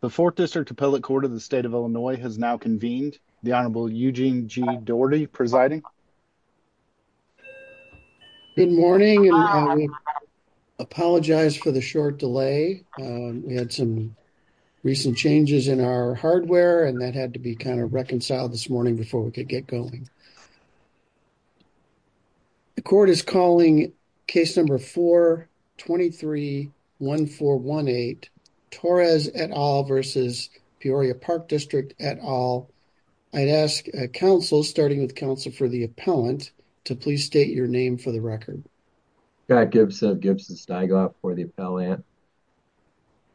The 4th District Appellate Court of the State of Illinois has now convened. The Honorable Eugene G. Doherty presiding. Good morning. I apologize for the short delay. We had some recent changes in our hardware and that had to be kind of reconciled this morning before we could get going. The court is calling case number 4231418 Torres et al. versus Peoria Park District et al. I'd ask counsel starting with counsel for the appellant to please state your name for the record. Scott Gibson, Gibson Stigloff for the appellant.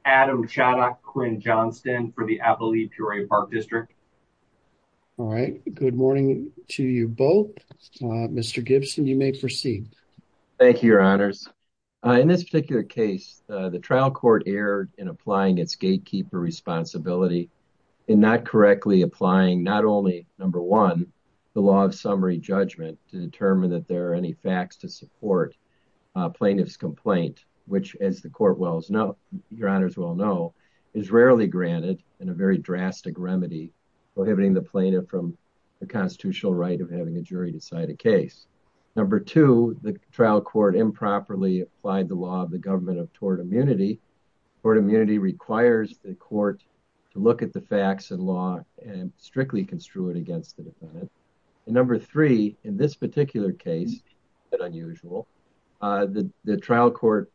Adam Chaddock Quinn Johnston for the Appalachia Peoria Park District. All In this particular case, the trial court erred in applying its gatekeeper responsibility in not correctly applying not only, number one, the law of summary judgment to determine that there are any facts to support plaintiff's complaint, which as the court will know, your honors will know, is rarely granted in a very drastic remedy prohibiting the plaintiff from the constitutional right of having a jury decide a case. Number two, the trial court improperly applied the law of the government of tort immunity. Tort immunity requires the court to look at the facts and law and strictly construe it against the defendant. And number three, in this particular case, an unusual, the trial court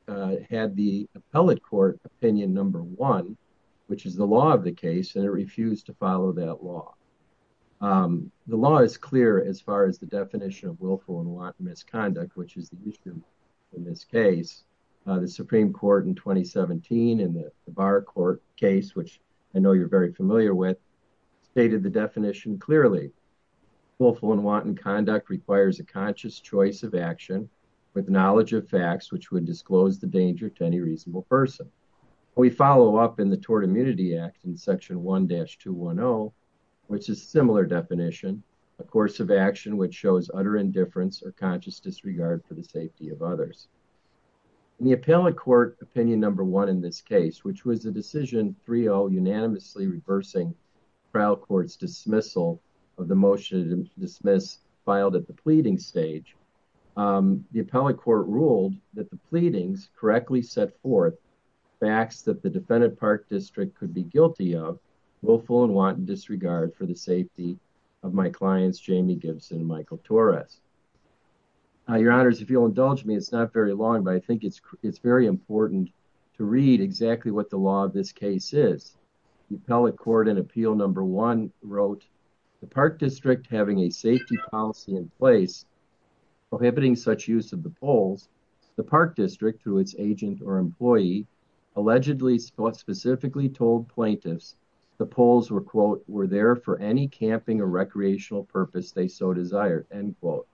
had the appellate court opinion number one, which is the law of the case and it refused to follow that law. The law is clear as far as the definition of willful and wanton misconduct, which is the issue in this case. The Supreme Court in 2017 in the Bar Court case, which I know you're very familiar with, stated the definition clearly. Willful and wanton conduct requires a conscious choice of action with knowledge of facts which would disclose the danger to any person. We follow up in the Tort Immunity Act in section 1-210, which is a similar definition, a course of action which shows utter indifference or conscious disregard for the safety of others. In the appellate court opinion number one in this case, which was the decision 3-0 unanimously reversing trial court's dismissal of the motion to dismiss filed at the pleading stage, the appellate court ruled that the pleadings correctly set forth facts that the defendant Park District could be guilty of willful and wanton disregard for the safety of my clients Jamie Gibson and Michael Torres. Your Honors, if you'll indulge me, it's not very long, but I think it's very important to read exactly what the law of this case is. The appellate court in appeal number one wrote, the Park District having a safety policy in place prohibiting such use of the poles, the Park District, through its agent or employee, allegedly specifically told plaintiffs the poles were quote, were there for any camping or recreational purpose they so desired, end quote,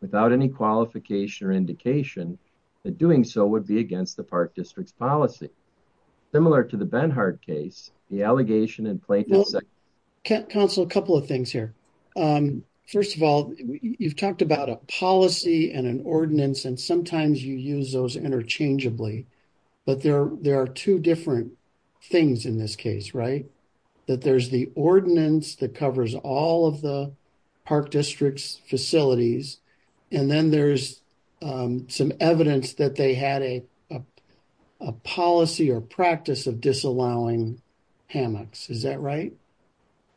without any qualification or indication that doing so would be against the Park District's policy. Similar to the Benhart case, the allegation in plaintiff's... Counsel, a couple of things here. First of all, you've talked about a ordinance and sometimes you use those interchangeably, but there are two different things in this case, right? That there's the ordinance that covers all of the Park District's facilities and then there's some evidence that they had a policy or practice of disallowing hammocks, is that right?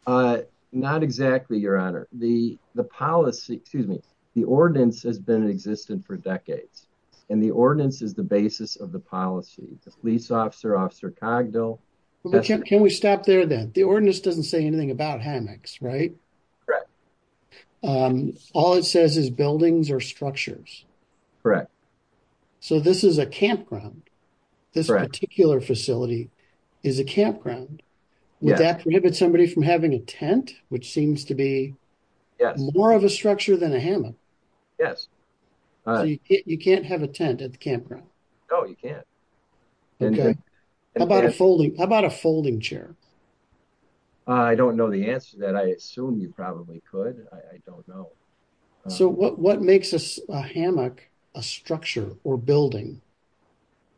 Not exactly, Your decades and the ordinance is the basis of the policy. The police officer, Officer Cogdill... Can we stop there then? The ordinance doesn't say anything about hammocks, right? Correct. All it says is buildings or structures. Correct. So this is a campground. This particular facility is a campground. Would that prohibit somebody from having a tent, which seems to be more of a structure than a hammock? Yes. So you can't have a tent at the campground? No, you can't. Okay. How about a folding chair? I don't know the answer to that. I assume you probably could. I don't know. So what makes a hammock a structure or building?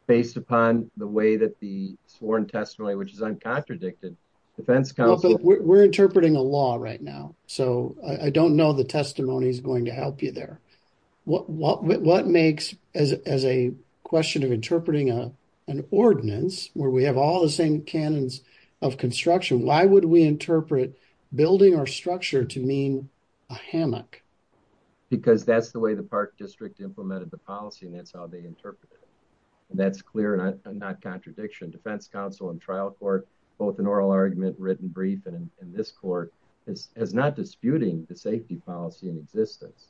Based upon the way that the sworn testimony, which is uncontradicted, defense counsel... We're interpreting a law right now, so I don't know the testimony is going to help you there. What makes, as a question of interpreting an ordinance, where we have all the same canons of construction, why would we interpret building or structure to mean a hammock? Because that's the way the Park District implemented the policy and that's how they interpret it. And that's clear and not contradiction. Defense counsel and trial court, both in oral argument, written brief, and in this court, is not disputing the safety policy in existence.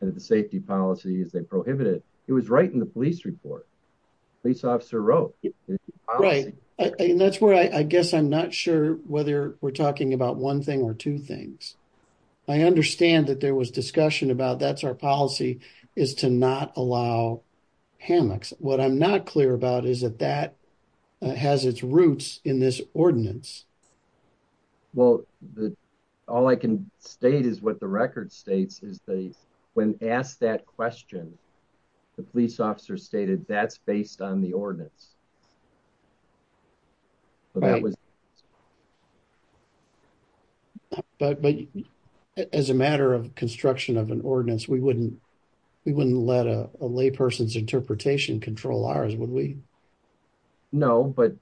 And the safety policy is they prohibited it. It was right in the police report. Police officer wrote. Right, and that's where I guess I'm not sure whether we're talking about one thing or two things. I understand that there was discussion about that's our policy is to not allow hammocks. What I'm not clear about is that that has its roots in this ordinance. Well, all I can state is what the record states is they, when asked that question, the police officer stated that's based on the ordinance. But as a matter of construction of an ordinance, we wouldn't let a layperson's interpretation control ours, would we? No, but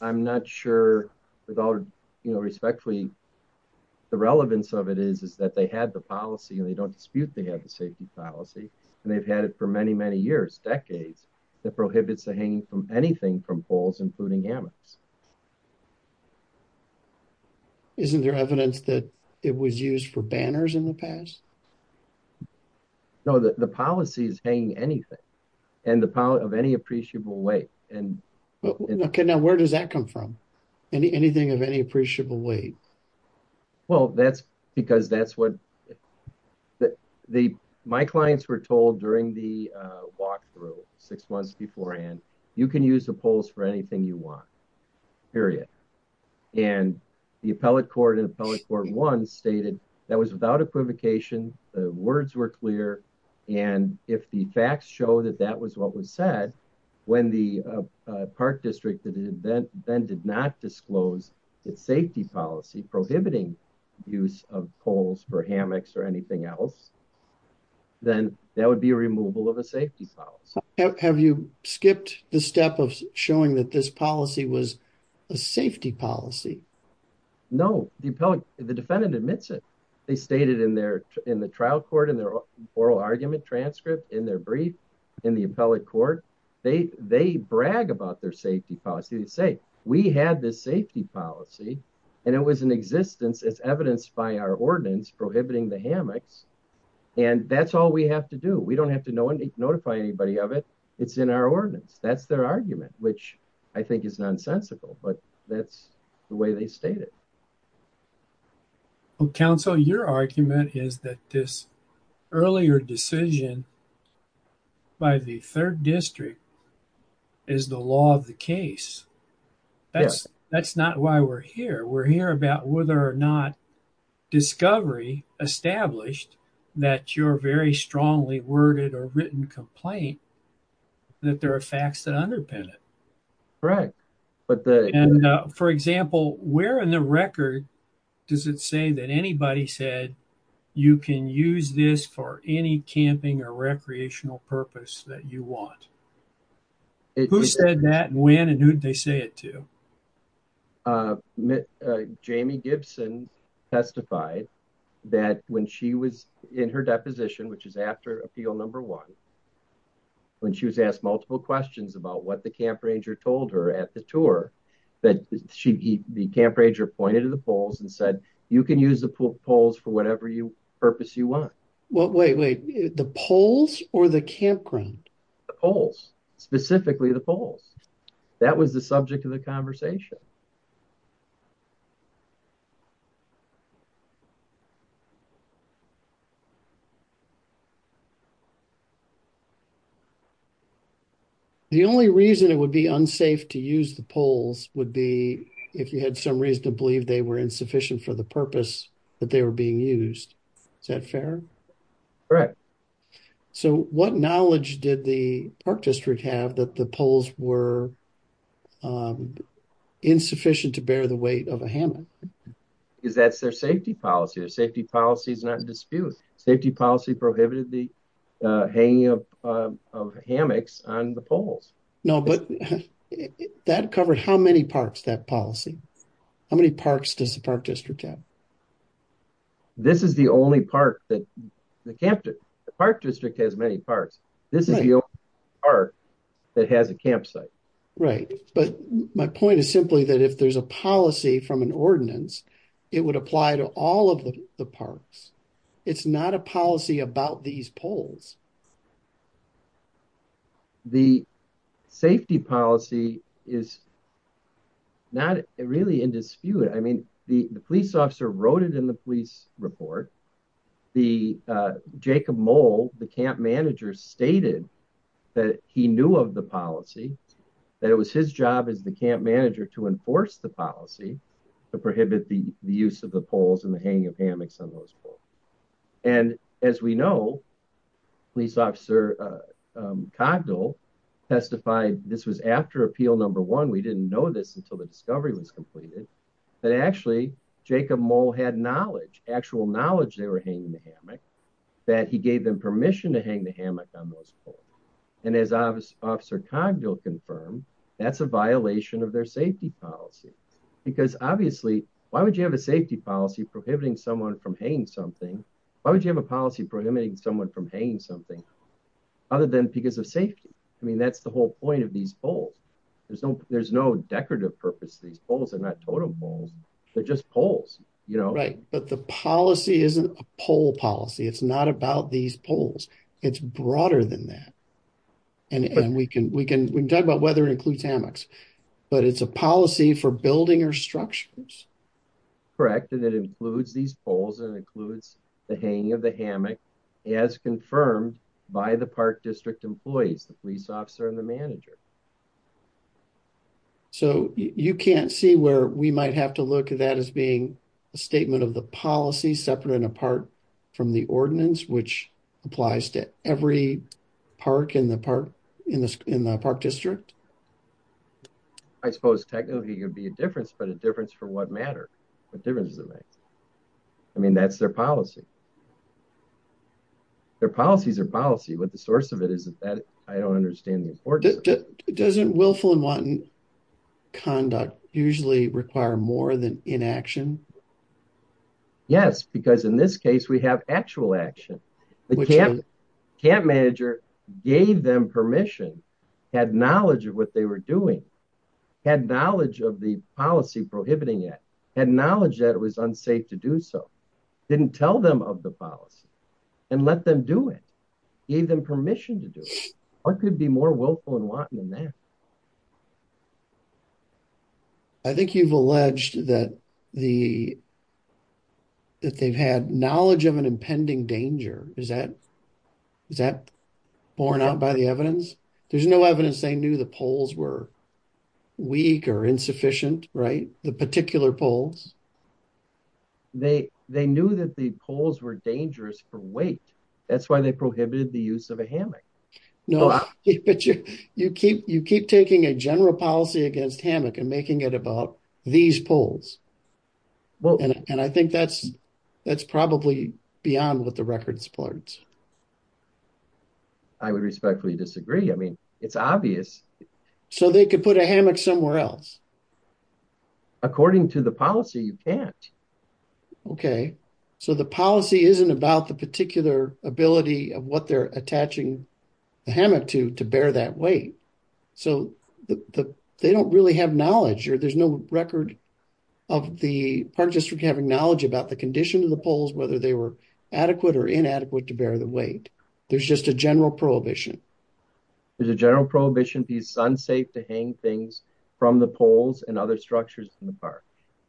I'm not sure with all respect, the relevance of it is that they had the policy and they don't dispute they have the safety policy and they've had it for many, many years, decades, that prohibits the hanging from anything from poles, including hammocks. Isn't there evidence that it was used for banners in the past? No, the policy is hanging anything and of any appreciable weight. Okay, now any appreciable weight? Well, that's because that's what the, my clients were told during the walkthrough six months beforehand, you can use the poles for anything you want, period. And the appellate court in appellate court one stated that was without equivocation, the words were clear, and if the facts show that that was what was said, when the Park District then did not disclose its safety policy prohibiting use of poles for hammocks or anything else, then that would be a removal of a safety policy. Have you skipped the step of showing that this policy was a safety policy? No, the appellate, the defendant admits it. They stated in their, in the trial court, in their oral argument transcript, in their brief, in the appellate court, they brag about their safety policy. They say, we had this safety policy and it was in existence, it's evidenced by our ordinance prohibiting the hammocks, and that's all we have to do. We don't have to notify anybody of it, it's in our ordinance. That's their argument, which I think is nonsensical, but that's the way they state it. Counsel, your argument is that this earlier decision by the Third District is the law of the case. That's not why we're here. We're here about whether or not discovery established that you're very strongly worded or written complaint, that there are facts that underpin it. Correct. And for example, where in the record does it say that anybody said you can use this for any camping or recreational purpose that you want? Who said that, and when, and who'd they say it to? Jamie Gibson testified that when she was in her deposition, which is after appeal number one, when she was asked multiple questions about what the camp ranger told her at the tour, that the camp ranger pointed to the poles and said, you can use the poles for whatever purpose you want. Well, wait, wait, the poles or the campground? The poles, specifically the poles. That was the subject of the conversation. The only reason it would be unsafe to use the poles would be if you had some reason to believe they were insufficient for the purpose that they were being used. Is that fair? Correct. So what knowledge did the Park District have that the poles were insufficient to bear the weight of a hammock? Because that's their safety policy. Their safety policy is not in dispute. Safety policy prohibited the hanging of hammocks on the poles. No, but that covered how many parks, that policy? How many parks does the Park District have? This is the only park that the camp, the Park District has many parks. This is the only park that has a campsite. Right, but my point is simply that if there's a policy from an ordinance, it would apply to all of the parks. It's not a policy about these poles. The safety policy is not really in dispute. I mean, the police officer wrote it in the police report. Jacob Moll, the camp manager, stated that he knew of the policy, that it was his job as the camp manager to enforce the policy to prohibit the use of the poles and the hanging of hammocks on those poles. And as we know, Police Officer Cogdell testified, this was after Appeal Number One, we didn't know this until the discovery was completed, that actually Jacob Moll had knowledge, actual knowledge they were hanging the hammock, that he gave them permission to hang the hammock on those poles. And as Officer Cogdell confirmed, that's a violation of their safety policy. Because obviously, why would you have a safety policy prohibiting someone from hanging something? Why would you have a policy prohibiting someone from hanging something, other than because of safety? I mean, that's the whole point of these poles. There's no decorative purpose to these poles. They're not totem poles. They're just poles, you know. Right, but the policy isn't a pole policy. It's not about these poles. It's broader than that. And we can talk about whether it includes hammocks, but it's a policy for building or structures? Correct, and it includes these poles and includes the hanging of the hammock, as confirmed by the Park District employees, the police officer and the manager. So, you can't see where we might have to look at that as being a statement of the policy, separate and apart from the ordinance, which applies to every park in the Park District? I suppose technically, it would be a difference, but a difference for what matter. What difference does it make? I mean, that's their policy. Their policies are policy, but the source of it isn't that. I don't understand the importance. Doesn't willful and wanton conduct usually require more than inaction? Yes, because in this case, we have actual action. The camp manager gave them permission, had knowledge of what they were doing, had knowledge of the policy prohibiting it, had knowledge that it was unsafe to do so, didn't tell them of the policy and let them do it, gave them permission to do it. What could be more willful and wanton than that? I think you've alleged that they've had knowledge of an impending danger. Is that borne out by the evidence? There's no evidence they knew the poles were weak or insufficient, right? The particular poles. They knew that the poles were dangerous for weight. That's why they prohibited the use of a hammock. No, but you keep taking a general policy against hammock and making it about these poles. And I think that's probably beyond what the record supports. I would respectfully disagree. I mean, it's obvious. So they could put a hammock somewhere else? According to the policy, you can't. Okay, so the policy isn't about the particular ability of what they're attaching the hammock to to bear that weight. So they don't really have knowledge or there's no record of the Park District having knowledge about the condition of the poles, whether they were adequate or inadequate to bear the weight. There's just a general prohibition. There's a general prohibition to be sun safe to hang things from the poles and other structures in the park.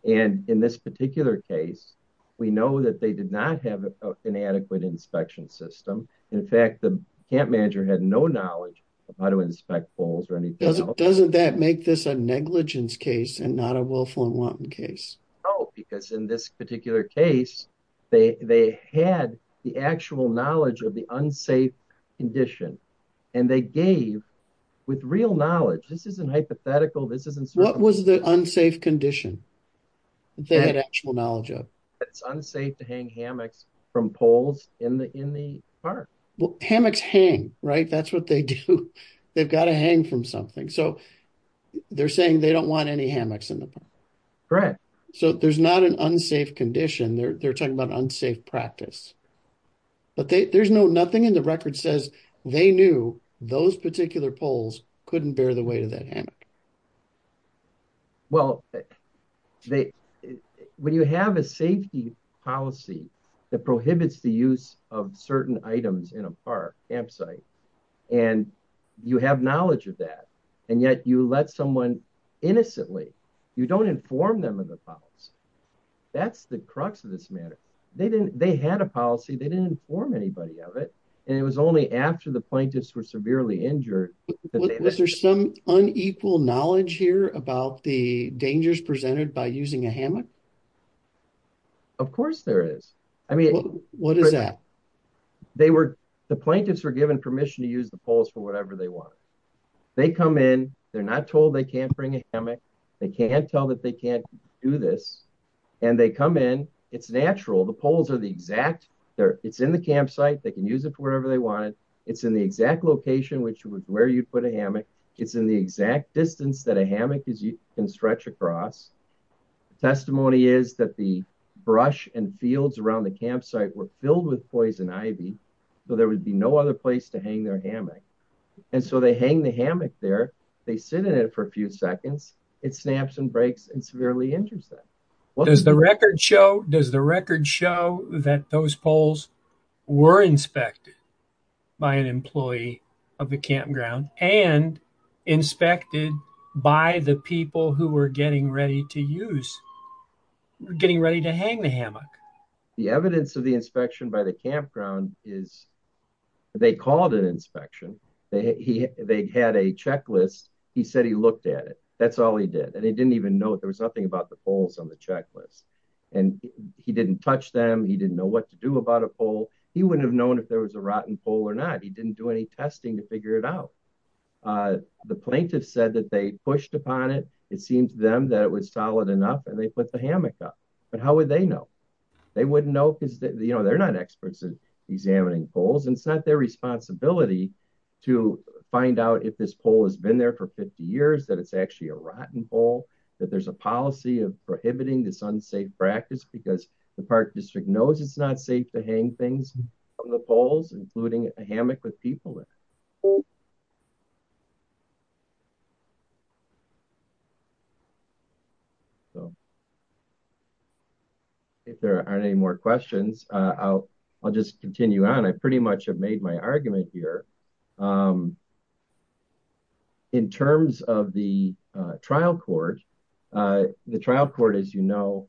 And in this particular case, we know that they did not have an adequate inspection system. In fact, the camp manager had no knowledge of how to inspect poles or anything. Doesn't that make this a negligence case and not a willful and wanton case? No, because in this particular case, they had the actual knowledge of the unsafe condition and they gave with real knowledge. This isn't hypothetical. What was the unsafe condition they had actual knowledge of? It's unsafe to hang hammocks from poles in the park. Hammocks hang, right? That's what they do. They've got to hang from something. So they're saying they don't want any hammocks in the park. Correct. So there's not an unsafe condition there. They're talking about unsafe practice. But there's no nothing in the record says they knew those particular poles couldn't bear the weight of that hammock. Well, when you have a safety policy that prohibits the use of certain items in a park campsite, and you have knowledge of that, and yet you let someone innocently, you don't inform them of the pulse. That's the crux of this matter. They didn't they had a policy, they didn't inform anybody of it. And it was only after the plaintiffs were severely injured. Was there some unequal knowledge here about the dangers presented by using a hammock? Of course there is. I mean, what is that? They were, the plaintiffs were given permission to use the poles for whatever they want. They come in, they're not told they can't bring a hammock. They can't tell that they can't do this. And they come in, it's natural, the poles are the exact there, it's in the campsite, they can use it for whatever they wanted. It's in the exact location, which was where you put a hammock. It's in the exact distance that a hammock is you can stretch across. The testimony is that the brush and fields around the campsite were filled with poison ivy. So there would be no other place to hang their hammock. And so they hang the hammock there, they sit in it for a few seconds, it snaps and breaks and severely injures them. Does the record show, does the record show that those poles were inspected by an employee of the campground and inspected by the people who were getting ready to use, getting ready to hang the hammock? The evidence of the inspection by the campground is, they called an inspection. They had a checklist. He said he looked at it. That's all he did. And he didn't even know there was nothing about the poles on the checklist. And he didn't touch them. He didn't know what to do about a pole. He wouldn't have known if there was a rotten pole or not. He didn't do any testing to figure it out. The plaintiff said that they pushed upon it, it seemed to them that it was solid enough and they put the hammock up. But how would they know? They wouldn't know because they're not experts in examining poles. And it's not their responsibility to find out if this pole has been there for 50 years, that it's actually a rotten pole, that there's a policy of prohibiting this unsafe practice because the park district knows it's not safe to hang things from the poles, including a hammock with people in it. So if there aren't any more questions, I'll just continue on. I pretty much have made my argument here. In terms of the trial court, the trial court, as you know,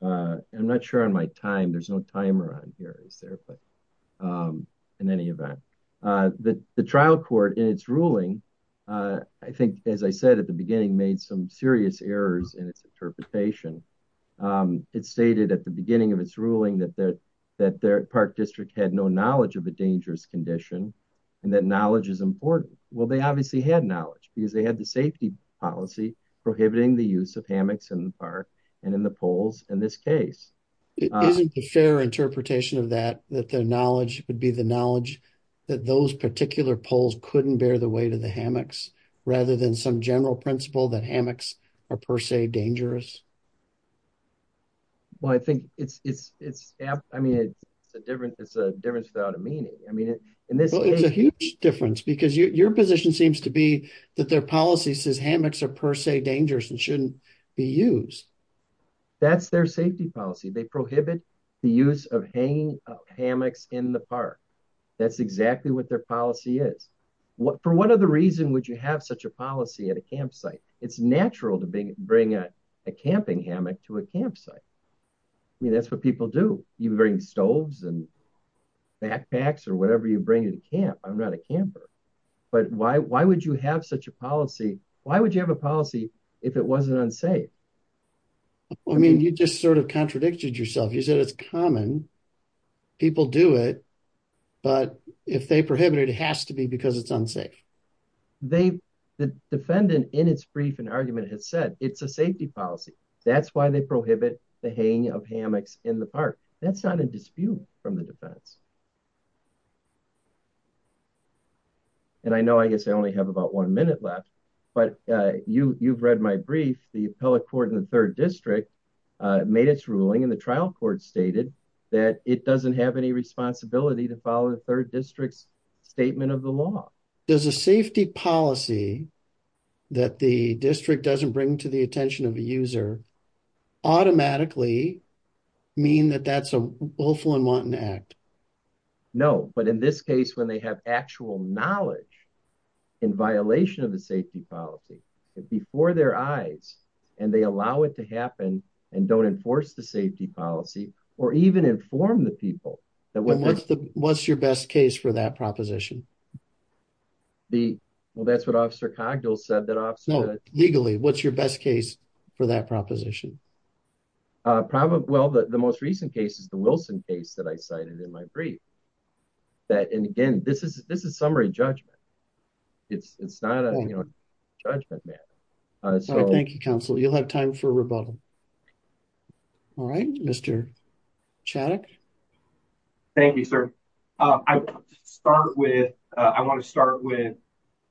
I'm not sure on my time, there's no timer on here, is there? But in any event, the trial court in its ruling, I think, as I said at the beginning, made some serious errors in its interpretation. It stated at the beginning of its ruling that their park district had no knowledge of a dangerous condition and that knowledge is important. Well, they obviously had knowledge because they had the safety policy prohibiting the use of hammocks in the park and in the poles in this case. Isn't the fair interpretation of that, that their knowledge would be the knowledge that those particular poles couldn't bear the weight of the hammocks, rather than some general principle that hammocks are per se dangerous? Well, I think it's, I mean, it's a difference without a meaning. I mean, it's a huge difference because your position seems to be that their policy says hammocks are per se dangerous and shouldn't be used. That's their safety policy. They prohibit the use of hanging hammocks in the park. That's exactly what their policy is. For what other reason would you have such a policy at a campsite? It's natural to bring a camping hammock to a campsite. I mean, that's what people do. You bring stoves and backpacks or whatever you bring to camp. I'm not a camper. But why would you have such a policy? Why would you have a policy if it wasn't unsafe? I mean, you just sort of contradicted yourself. You said it's common, people do it, but if they prohibit it, it has to be because it's unsafe. They, the defendant in its brief and argument has said it's a safety policy. That's why they prohibit the hanging of hammocks in the park. That's not a dispute from the defense. And I know, I guess I only have about one minute left, but you, you've read my brief. The appellate court in the third district made its ruling and the trial court stated that it doesn't have any responsibility to follow the third district's statement of the law. Does a safety policy that the district doesn't bring to the attention of a user automatically mean that that's a willful and wanton act? No, but in this case, when they have actual knowledge in violation of the safety policy before their eyes and they allow it to happen and don't enforce the safety policy or even inform the people that what's the what's your best case for that proposition? The, well, that's what officer Cogdell said that officer legally, what's your best case for that proposition? Uh, probably, well, the, the most recent cases, the Wilson case that I cited in my brief that, and again, this is, this is summary judgment. It's, it's not a judgment matter. Uh, so thank you counsel. You'll have time for rebuttal. All right, Mr. Chaddock. Thank you, sir. Uh, I start with, uh, I want to start with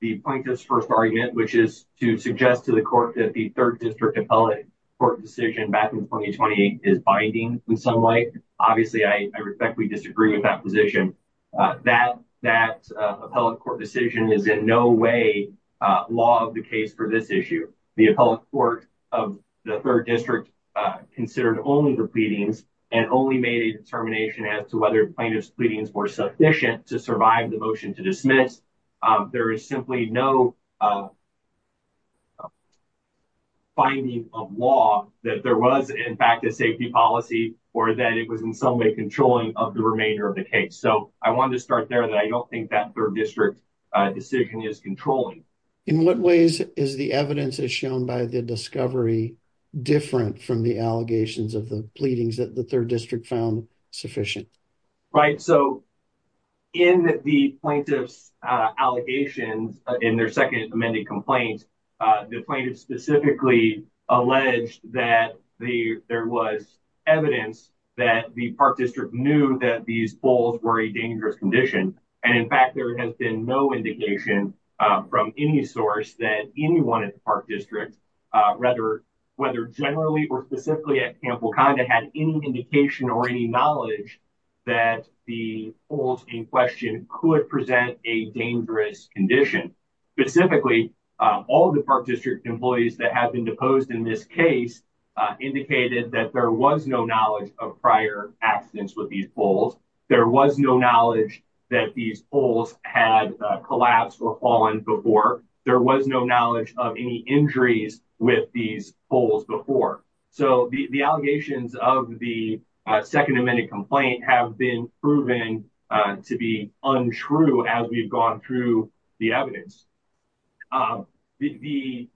the plaintiff's first argument, which is to suggest to the court that the third district appellate court decision back in 2028 is binding in some way. Obviously I respectfully disagree with that position. Uh, that, that, uh, appellate court decision is in no way a law of the case for this issue. The appellate court of the third district, uh, considered only the pleadings and only made a determination as to whether plaintiff's pleadings were sufficient to survive the motion to dismiss. Um, there is simply no, uh, finding of law that there was in fact a safety policy or that it was in some way controlling of the remainder of the case. So I wanted to start there that I don't think that third district decision is controlling. In what ways is the evidence as shown by the discovery different from the allegations of the pleadings that the third district found sufficient? Right. So in the plaintiff's, uh, allegations in their second amended complaints, uh, the plaintiff specifically alleged that the, there was evidence that the park district knew that these bulls were a dangerous condition. And in fact, there has been no indication from any source that anyone at the park district, uh, whether, whether generally or specifically at Wakanda had any indication or any knowledge that the old in question could present a dangerous condition. Specifically, uh, all the park district employees that have been deposed in this case, uh, indicated that there was no knowledge of prior accidents with these bulls. There was no knowledge that these bulls had collapsed or fallen before. There was no knowledge of any injuries with these holes before. So the, the allegations of the second amended complaint have been proven to be untrue as we've gone through the evidence. Um, the, the,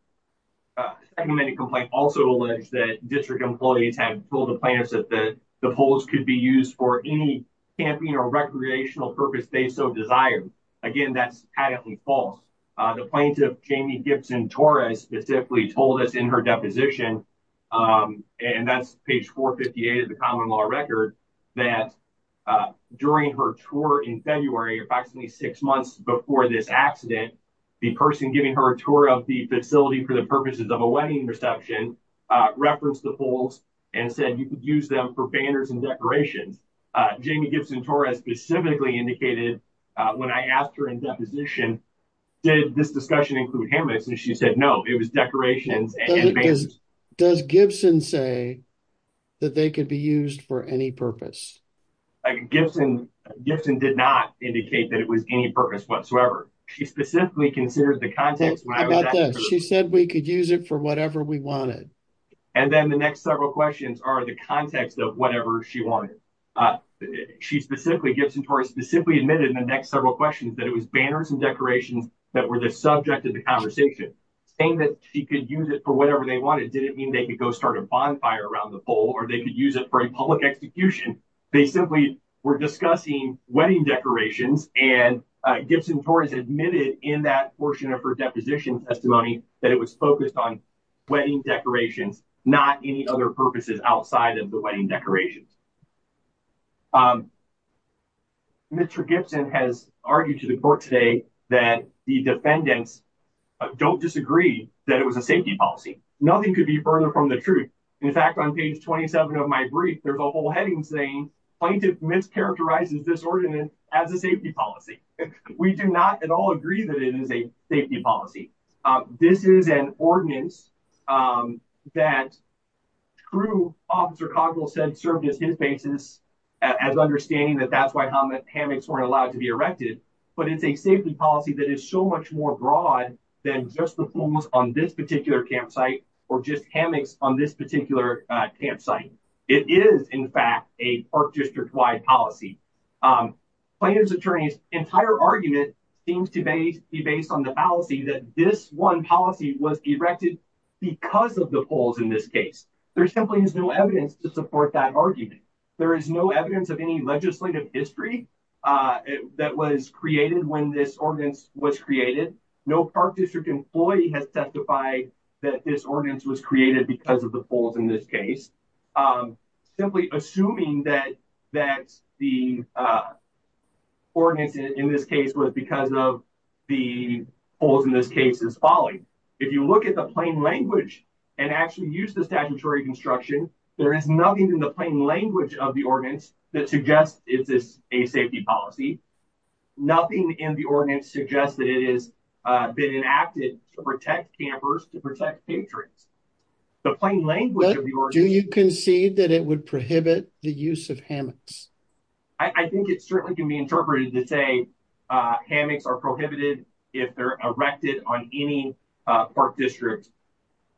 uh, many complaint also alleged that district employees had pulled the plaintiffs at the polls could be used for any camping or recreational purpose. They so desired again, that's patently false. Uh, the plaintiff, Jamie Gibson Torres specifically told us in her deposition, um, and that's page four 58 of the common law record that, uh, during her tour in February, approximately six months before this accident, the person giving her a tour of the facility for the purposes of a wedding reception, uh, referenced the polls and said, you could use them for banners and decorations. Uh, Jamie Gibson Torres specifically indicated, uh, when I asked her in deposition, did this discussion include hammocks? And she said, no, it was decorations. Does Gibson say that they could be used for any purpose? Gibson, Gibson did not indicate that it was any purpose whatsoever. She specifically considered the context. She said we could use it for whatever we wanted. And then the next several questions are the context of whatever she wanted. Uh, she specifically Gibson Torres specifically admitted in the next several questions that it was banners and decorations that were the subject of the conversation saying that she could use it for whatever they wanted. Did it mean they could go start a bonfire around the pole or they could use it for a public execution? They simply were discussing wedding decorations. And, uh, Gibson Torres admitted in that portion of her deposition testimony that it was focused on wedding decorations, not any other purposes outside of the wedding decorations. Um, Mr. Gibson has argued to the court today that the defendants don't disagree that it was a safety policy. Nothing could be further from the truth. In fact, on page 27 of my brief, there's a whole heading saying plaintiff mischaracterizes this ordinance as a safety policy. We do not at all agree that it is a safety policy. Um, this is an ordinance, um, that grew. Officer Congress said served as his basis as understanding that that's why Hamlet hammocks weren't allowed to be erected. But it's a safety policy that is so much more broad than just the pools on this particular campsite or just hammocks on this particular campsite. It is, in fact, a park district wide policy. Um, plaintiff's attorney's entire argument seems to be based on the fallacy that this one policy was erected because of the polls in this case. There simply is no evidence to support that argument. There is no evidence of any legislative history, uh, that was created when this ordinance was created. No park district employee has testified that this ordinance was created because of the polls in this case. Um, simply assuming that that the, uh, ordinance in this case was because of the polls in this case is falling. If you look at the plain language and actually use the statutory construction, there is nothing in the plain language of the ordinance that suggests it's a safety policy. Nothing in the ordinance suggests that it is, uh, been enacted to protect campers, to protect patriots. The plain language. Do you concede that it would prohibit the use of hammocks? I think it certainly can be interpreted to say, uh, hammocks are if they're erected on any, uh, park district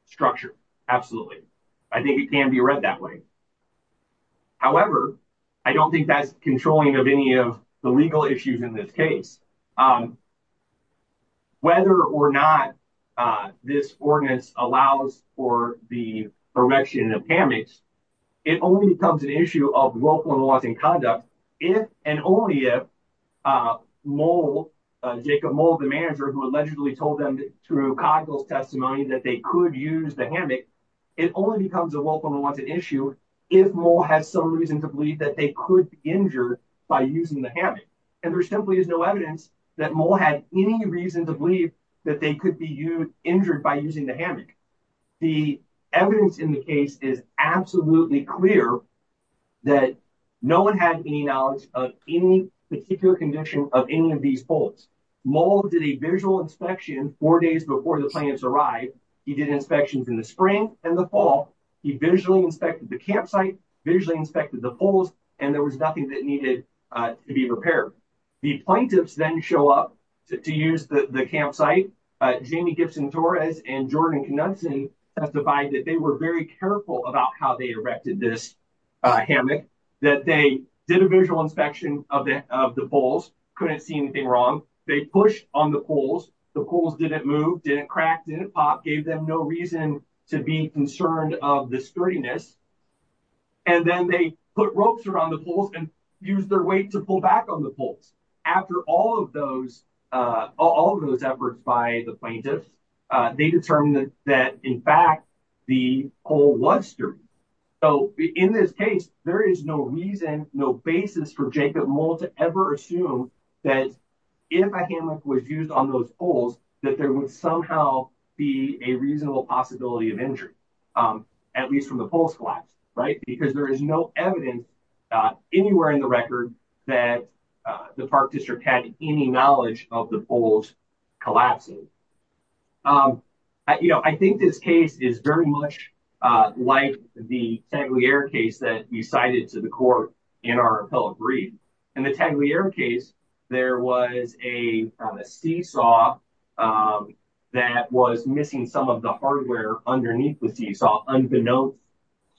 structure. Absolutely. I think it can be read that way. However, I don't think that's controlling of any of the legal issues in this case. Um, whether or not, uh, this ordinance allows for the erection of hammocks, it only becomes an issue of local laws and conduct. If and only if, uh, mole jacob mold the manager who allegedly told them through cargo's testimony that they could use the hammock, it only becomes a welcome unwanted issue. If more has some reason to believe that they could be injured by using the hammock, and there simply is no evidence that more had any reason to believe that they could be used injured by using the hammock. The evidence in the case is absolutely clear that no one had any knowledge of any particular condition of any of these polls. Mall did a visual inspection four days before the plaintiffs arrived. He did inspections in the spring and the fall. He visually inspected the campsite, visually inspected the polls, and there was nothing that needed to be repaired. The plaintiffs then show up to use the campsite. Jamie Gibson Torres and Jordan Knudson testified that they were very careful about how they erected this hammock, that they did a visual inspection of the polls, couldn't see anything wrong. They pushed on the polls. The polls didn't move, didn't crack, didn't pop, gave them no reason to be concerned of the scurriness. And then they put ropes around the polls and use their weight to pull back on the polls. After all of those, uh, all of those efforts by the plaintiffs, they determined that in fact, the pole was sturdy. So in this case, there is no reason, no basis for Jacob Mall to ever assume that if a hammock was used on those polls, that there would somehow be a reasonable possibility of injury, um, at least from the polls collapse, right? Because there is no evidence, uh, anywhere in the record that, uh, the park district had any knowledge of the polls collapsing. Um, you know, I think this case is very much, uh, like the Tangliere case that you cited to the court in our appellate brief. In the Tangliere case, there was a seesaw, um, that was missing some of the hardware underneath the seesaw unbeknownst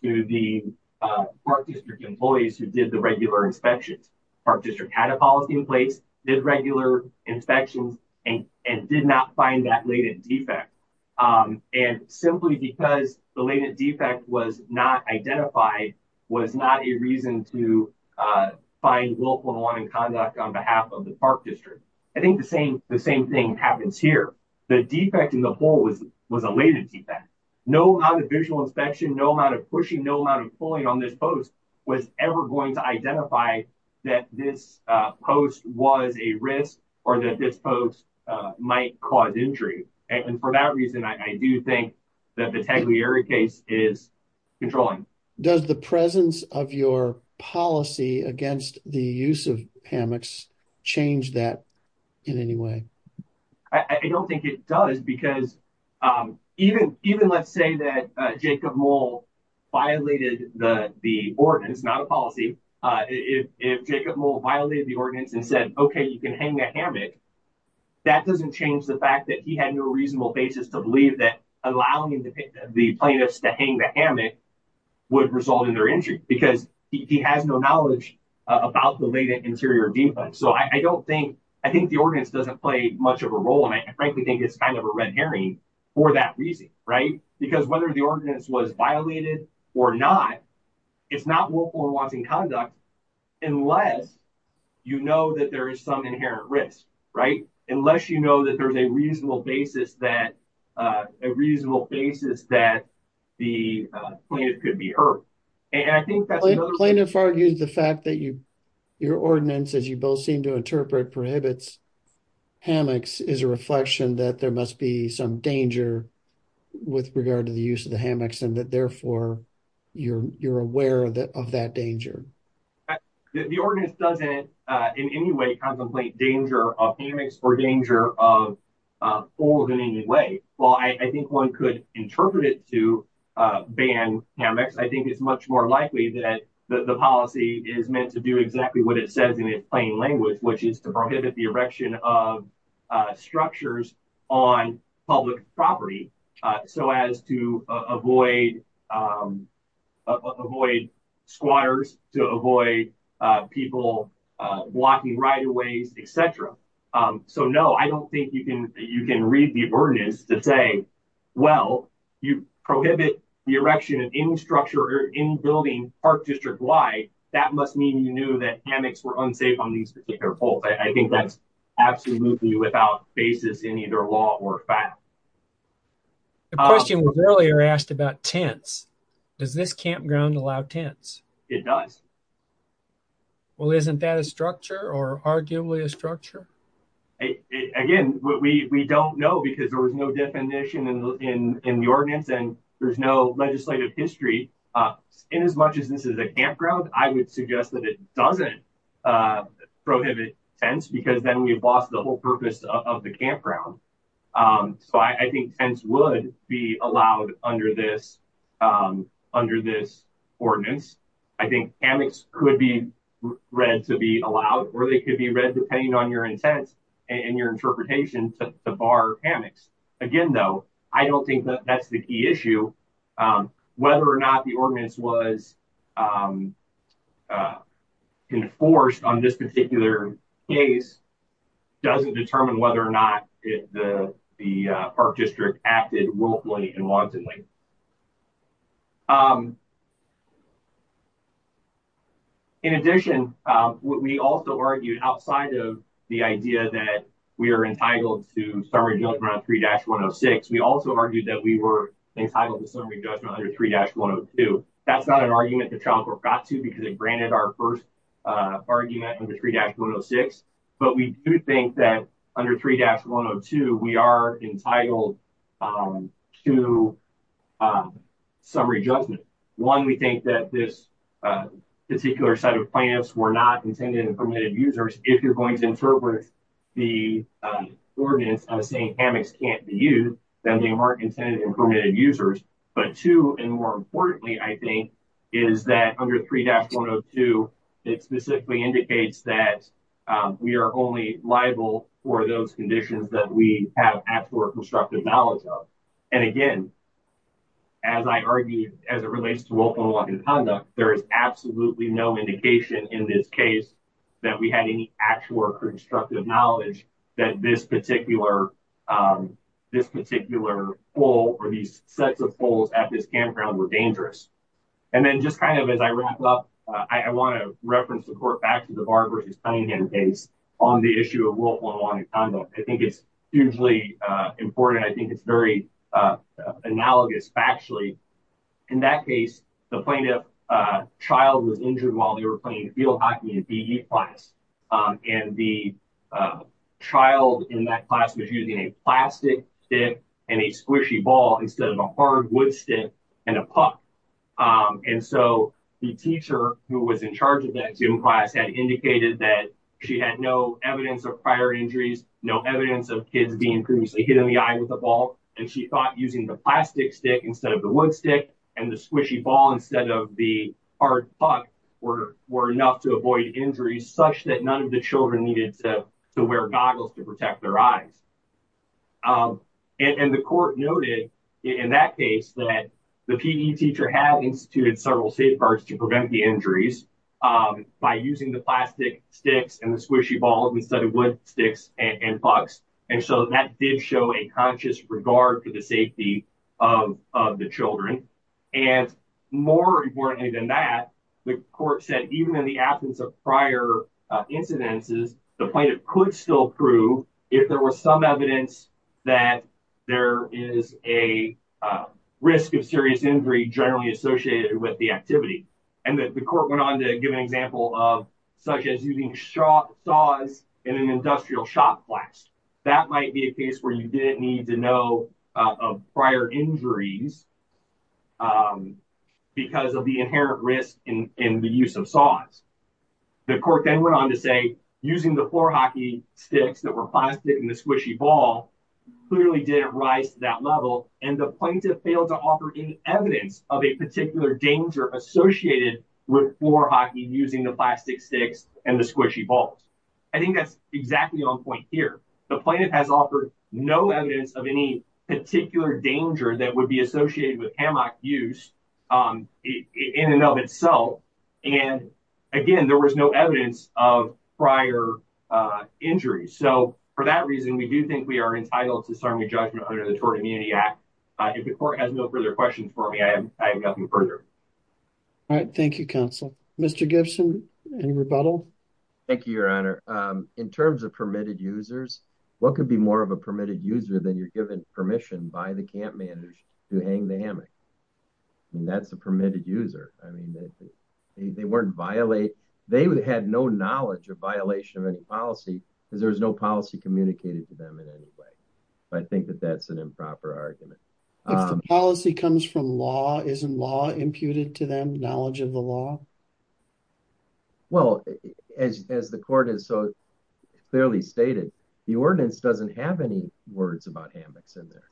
to the, uh, park district employees who did the regular inspections. Park district had a policy in place, did regular inspections and did not find that latent defect. Um, and simply because the latent defect was not identified, was not a reason to, uh, find willful and wanted conduct on behalf of the park district. I think the same, the same thing happens here. The defect in the whole was, was a latent defect. No amount of visual inspection, no amount of pushing, no amount of pulling on this post was ever going to identify that this post was a miss or that this post might cause injury. And for that reason, I do think that the Tangliere case is controlling. Does the presence of your policy against the use of hammocks change that in any way? I don't think it does because, um, even, even let's say that Jacob mole violated the ordinance, not policy. Uh, if, if Jacob mole violated the ordinance and said, okay, you can hang a hammock. That doesn't change the fact that he had no reasonable basis to believe that allowing the plaintiffs to hang the hammock would result in their injury because he has no knowledge about the latent interior. So I don't think, I think the ordinance doesn't play much of a role. And I frankly think it's kind of a red herring for that reason, right? Because whether the ordinance was violated or not, it's not what one wants in conduct unless, you know, that there is some inherent risk, right? Unless you know that there's a reasonable basis that, uh, a reasonable basis that the plaintiff could be hurt. And I think that's the plaintiff argued the fact that you, your ordinance, as you both seem to interpret prohibits hammocks is a reflection that there must be some danger with regard to the use of the hammocks and that therefore you're, you're aware of that danger. The ordinance doesn't in any way contemplate danger of hammocks or danger of, uh, or than any way. Well, I think one could interpret it to, uh, ban hammocks. I think it's much more likely that the policy is meant to do exactly what it says in its plain language, which is to prohibit the erection of, uh, structures on public property. Uh, so as to avoid, um, uh, avoid squatters to avoid, uh, people, uh, blocking right-of-ways, et cetera. Um, so no, I don't think you can, you can read the ordinance to say, well, you prohibit the erection of any structure or in building park district. Why that must mean you knew that hammocks were unsafe on these particular poles. I think that's absolutely without basis in either law or fact. The question was earlier asked about tents. Does this campground allow tents? It does. Well, isn't that a structure or arguably a structure? Again, we don't know because there was no definition in the ordinance and there's no legislative history. Uh, in as much as this is a campground, I would suggest that it doesn't, uh, prohibit tense because then we've lost the whole purpose of the campground. Um, so I think tense would be allowed under this, um, under this ordinance. I think hammocks could be read to be allowed or they could be read depending on your intent and your interpretation to bar hammocks. Again, though, I don't think that that's the key issue. Um, whether or not the ordinance was, um, uh, in force on this particular case doesn't determine whether or not the park district acted willfully and wantonly. Um, in addition, um, we also argued outside of the idea that we are entitled to summary judgment on three dash one Oh six. We also argued that we were entitled to summary judgment under three dash one Oh two. That's not an argument to Trump or got to because it granted our first, uh, argument under three dash one Oh six. But we do think that under three dash one Oh two we are entitled, um, to, um, summary judgment. One. We think that this, uh, particular set of plants were not intended and permitted users. If you're going to interpret the ordinance saying hammocks can't be used, then they weren't intended and permitted users. But two, and more importantly, I think is that under three dash one Oh two, it specifically indicates that, um, we are only liable for those conditions that we have asked for constructive knowledge of. And again, as I argued, as it relates to open walking conduct, there is absolutely no indication in this case that we had any actual or constructive knowledge that this particular, um, this particular hole or these sets of holes at this campground were dangerous. And then just kind of, as I wrap up, I want to reference the court back to the barbers is playing in case on the issue of willful unwanted conduct. I think it's hugely important. I think it's very, uh, analogous factually. In that case, the plaintiff, uh, child was injured while they were playing field hockey in PE class. Um, and the, uh, child in that class was using a plastic stick and a squishy ball instead of a hard wood stick and a puck. Um, and so the teacher who was in charge of that gym class had indicated that she had no evidence of prior injuries, no evidence of kids being previously hit in the eye with a ball. And she thought using the plastic stick instead of the wood stick and the squishy ball, instead of the hard puck were, were enough to avoid injuries such that none of the children needed to wear goggles to protect their eyes. Um, and the court noted in that case that the PE teacher had instituted several safeguards to prevent the injuries, um, by using the plastic sticks and the squishy ball instead of wood sticks and pucks. And so that did show a conscious regard for the safety of the Children. And more importantly than that, the court said, even in the absence of prior incidences, the plaintiff could still prove if there was some evidence that there is a risk of serious injury generally associated with the activity. And the court went on to give an example of such as using shot saws in an industrial shop blast. That might be a case where you didn't need to know of prior injuries, um, because of the inherent risk in the use of saws. The court then went on to say, using the floor hockey sticks that were plastic in the squishy ball clearly didn't rise to that level. And the plaintiff failed to offer any evidence of a particular danger associated with floor hockey using the plastic sticks and the squishy balls. I think that's exactly on point here. The planet has offered no evidence of any particular danger that would be associated with hammock use, um, in and of itself. And again, there was no evidence of prior injuries. So for that reason, we do think we are entitled to serving a judgment under the Tort Immunity Act. If the court has no further questions for me, I have nothing further. All right. Thank you, Counsel. Mr Gibson and rebuttal. Thank you, Your Honor. Um, in terms of permitted users, what could be more of a permitted user than you're given permission by the camp managers to hang the hammock? That's a permitted user. I mean, they weren't violate. They had no knowledge of violation of any policy because there was no policy communicated to them in any way. But I think that that's an improper argument. Um, policy comes from law. Isn't law imputed to them knowledge of the law? Well, as as the court is so clearly stated, the ordinance doesn't have any words about hammocks in there.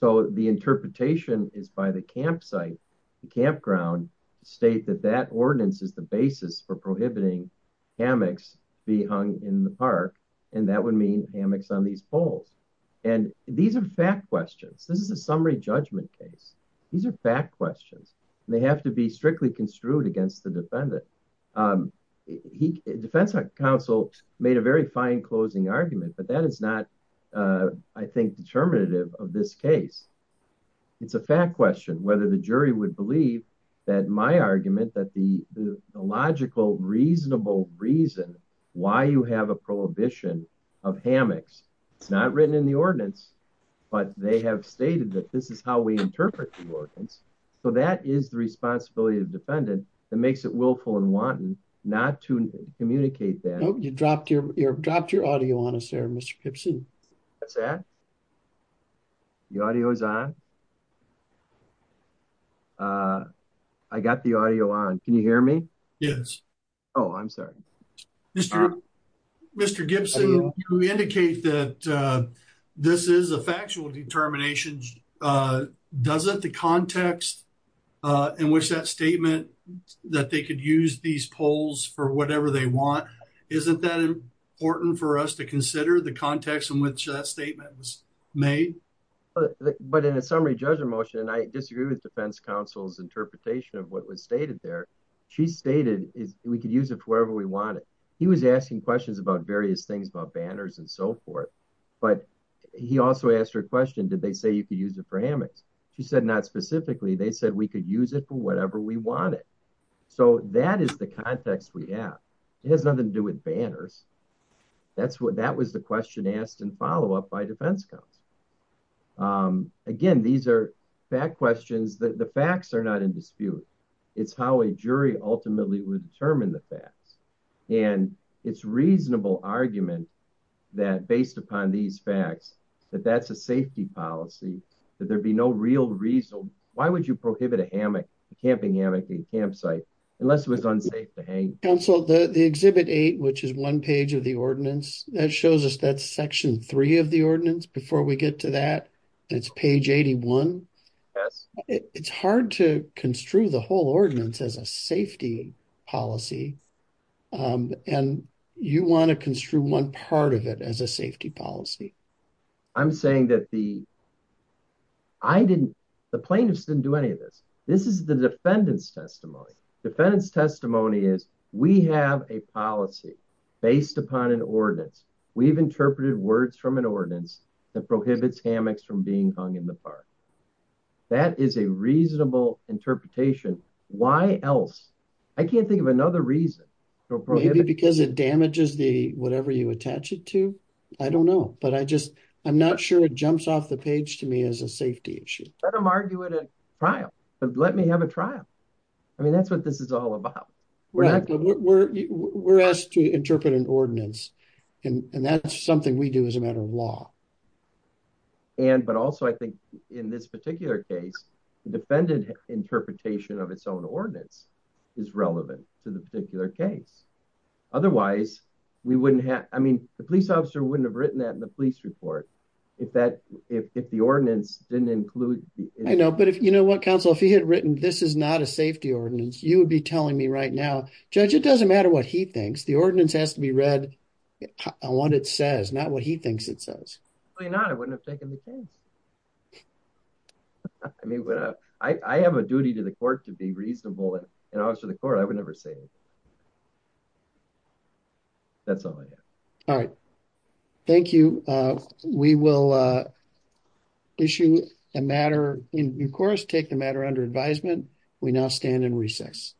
So the interpretation is by the campsite. The campground state that that ordinance is the basis for prohibiting hammocks be hung in the park, and that would mean hammocks on these poles. And these air fat questions. This is a summary judgment case. These air fat questions. They have to be strictly construed against the defendant. Um, he defense counsel made a very fine closing argument, but that is not, uh, I think determinative of this case. It's a fat question whether the jury would believe that my argument that the logical, reasonable reason why you have a prohibition of hammocks. It's not written in the ordinance, but they have stated that this is how we interpret the ordinance. So that is the responsibility of defendant that makes it willful and wanton not to communicate that you dropped your dropped your audio on us there, Mr Gibson. That's that the audio is on. Uh, I got the audio on. Can you hear me? Yes. Oh, I'm sorry, Mr. Mr Gibson, who indicate that, uh, this is a factual determination. Uh, doesn't the context, uh, in which that statement that they could use these poles for whatever they want. Isn't that important for us to consider the context in which that statement was made? But in a summary judgment motion, and I disagree with defense counsel's interpretation of what was stated there, she stated we could use it wherever we want it. He was asking questions about various things about banners and so forth. But he also asked her question. Did they say you could use it for hammocks? She said not specifically. They said we could use it for whatever we wanted. So that is the context we have. It has nothing to do with banners. That's what that was the question asked and follow up by defense comes again. These air back questions that the facts are not in dispute. It's how a jury ultimately would determine the facts and it's reasonable argument that based upon these facts that that's a safety policy, that there be no real reason. Why would you prohibit a hammock camping hammock in campsite unless it was unsafe to hang? Council the exhibit eight, which is one page of the ordinance that shows us that section three of the ordinance before we get to that, it's page 81. It's hard to construe the whole ordinance as a safety policy. Um, and you want to construe one part of it as a safety policy. I'm saying that the I didn't. The plaintiffs didn't do any of this. This is the defendant's testimony. Defendant's testimony is we have a policy based upon an ordinance. We've interpreted words from an ordinance that prohibits hammocks from being hung in the park. That is a reasonable interpretation. Why else? I can't think of another reason because it damages the whatever you attach it to. I don't know, but I just I'm not sure it jumps off the page to me as a safety issue. I'm arguing a trial, but let me have a trial. I mean, that's what this is all about. We're asked to interpret an ordinance, and that's something we do as a matter of law. And but also I think in this particular case, the defendant interpretation of its own ordinance is relevant to the particular case. Otherwise, we wouldn't have. I mean, the police officer wouldn't have written that in the police report. If that if the ordinance didn't include, I know. But if you had written this is not a safety ordinance, you would be telling me right now, Judge, it doesn't matter what he thinks. The ordinance has to be read on what it says, not what he thinks it says. You're not. I wouldn't have taken the case. I mean, I have a duty to the court to be reasonable and also the court. I would never say that's all. All right. Thank you. We will, uh, issue a matter in course. Take the matter under advisement. We now stand in recess.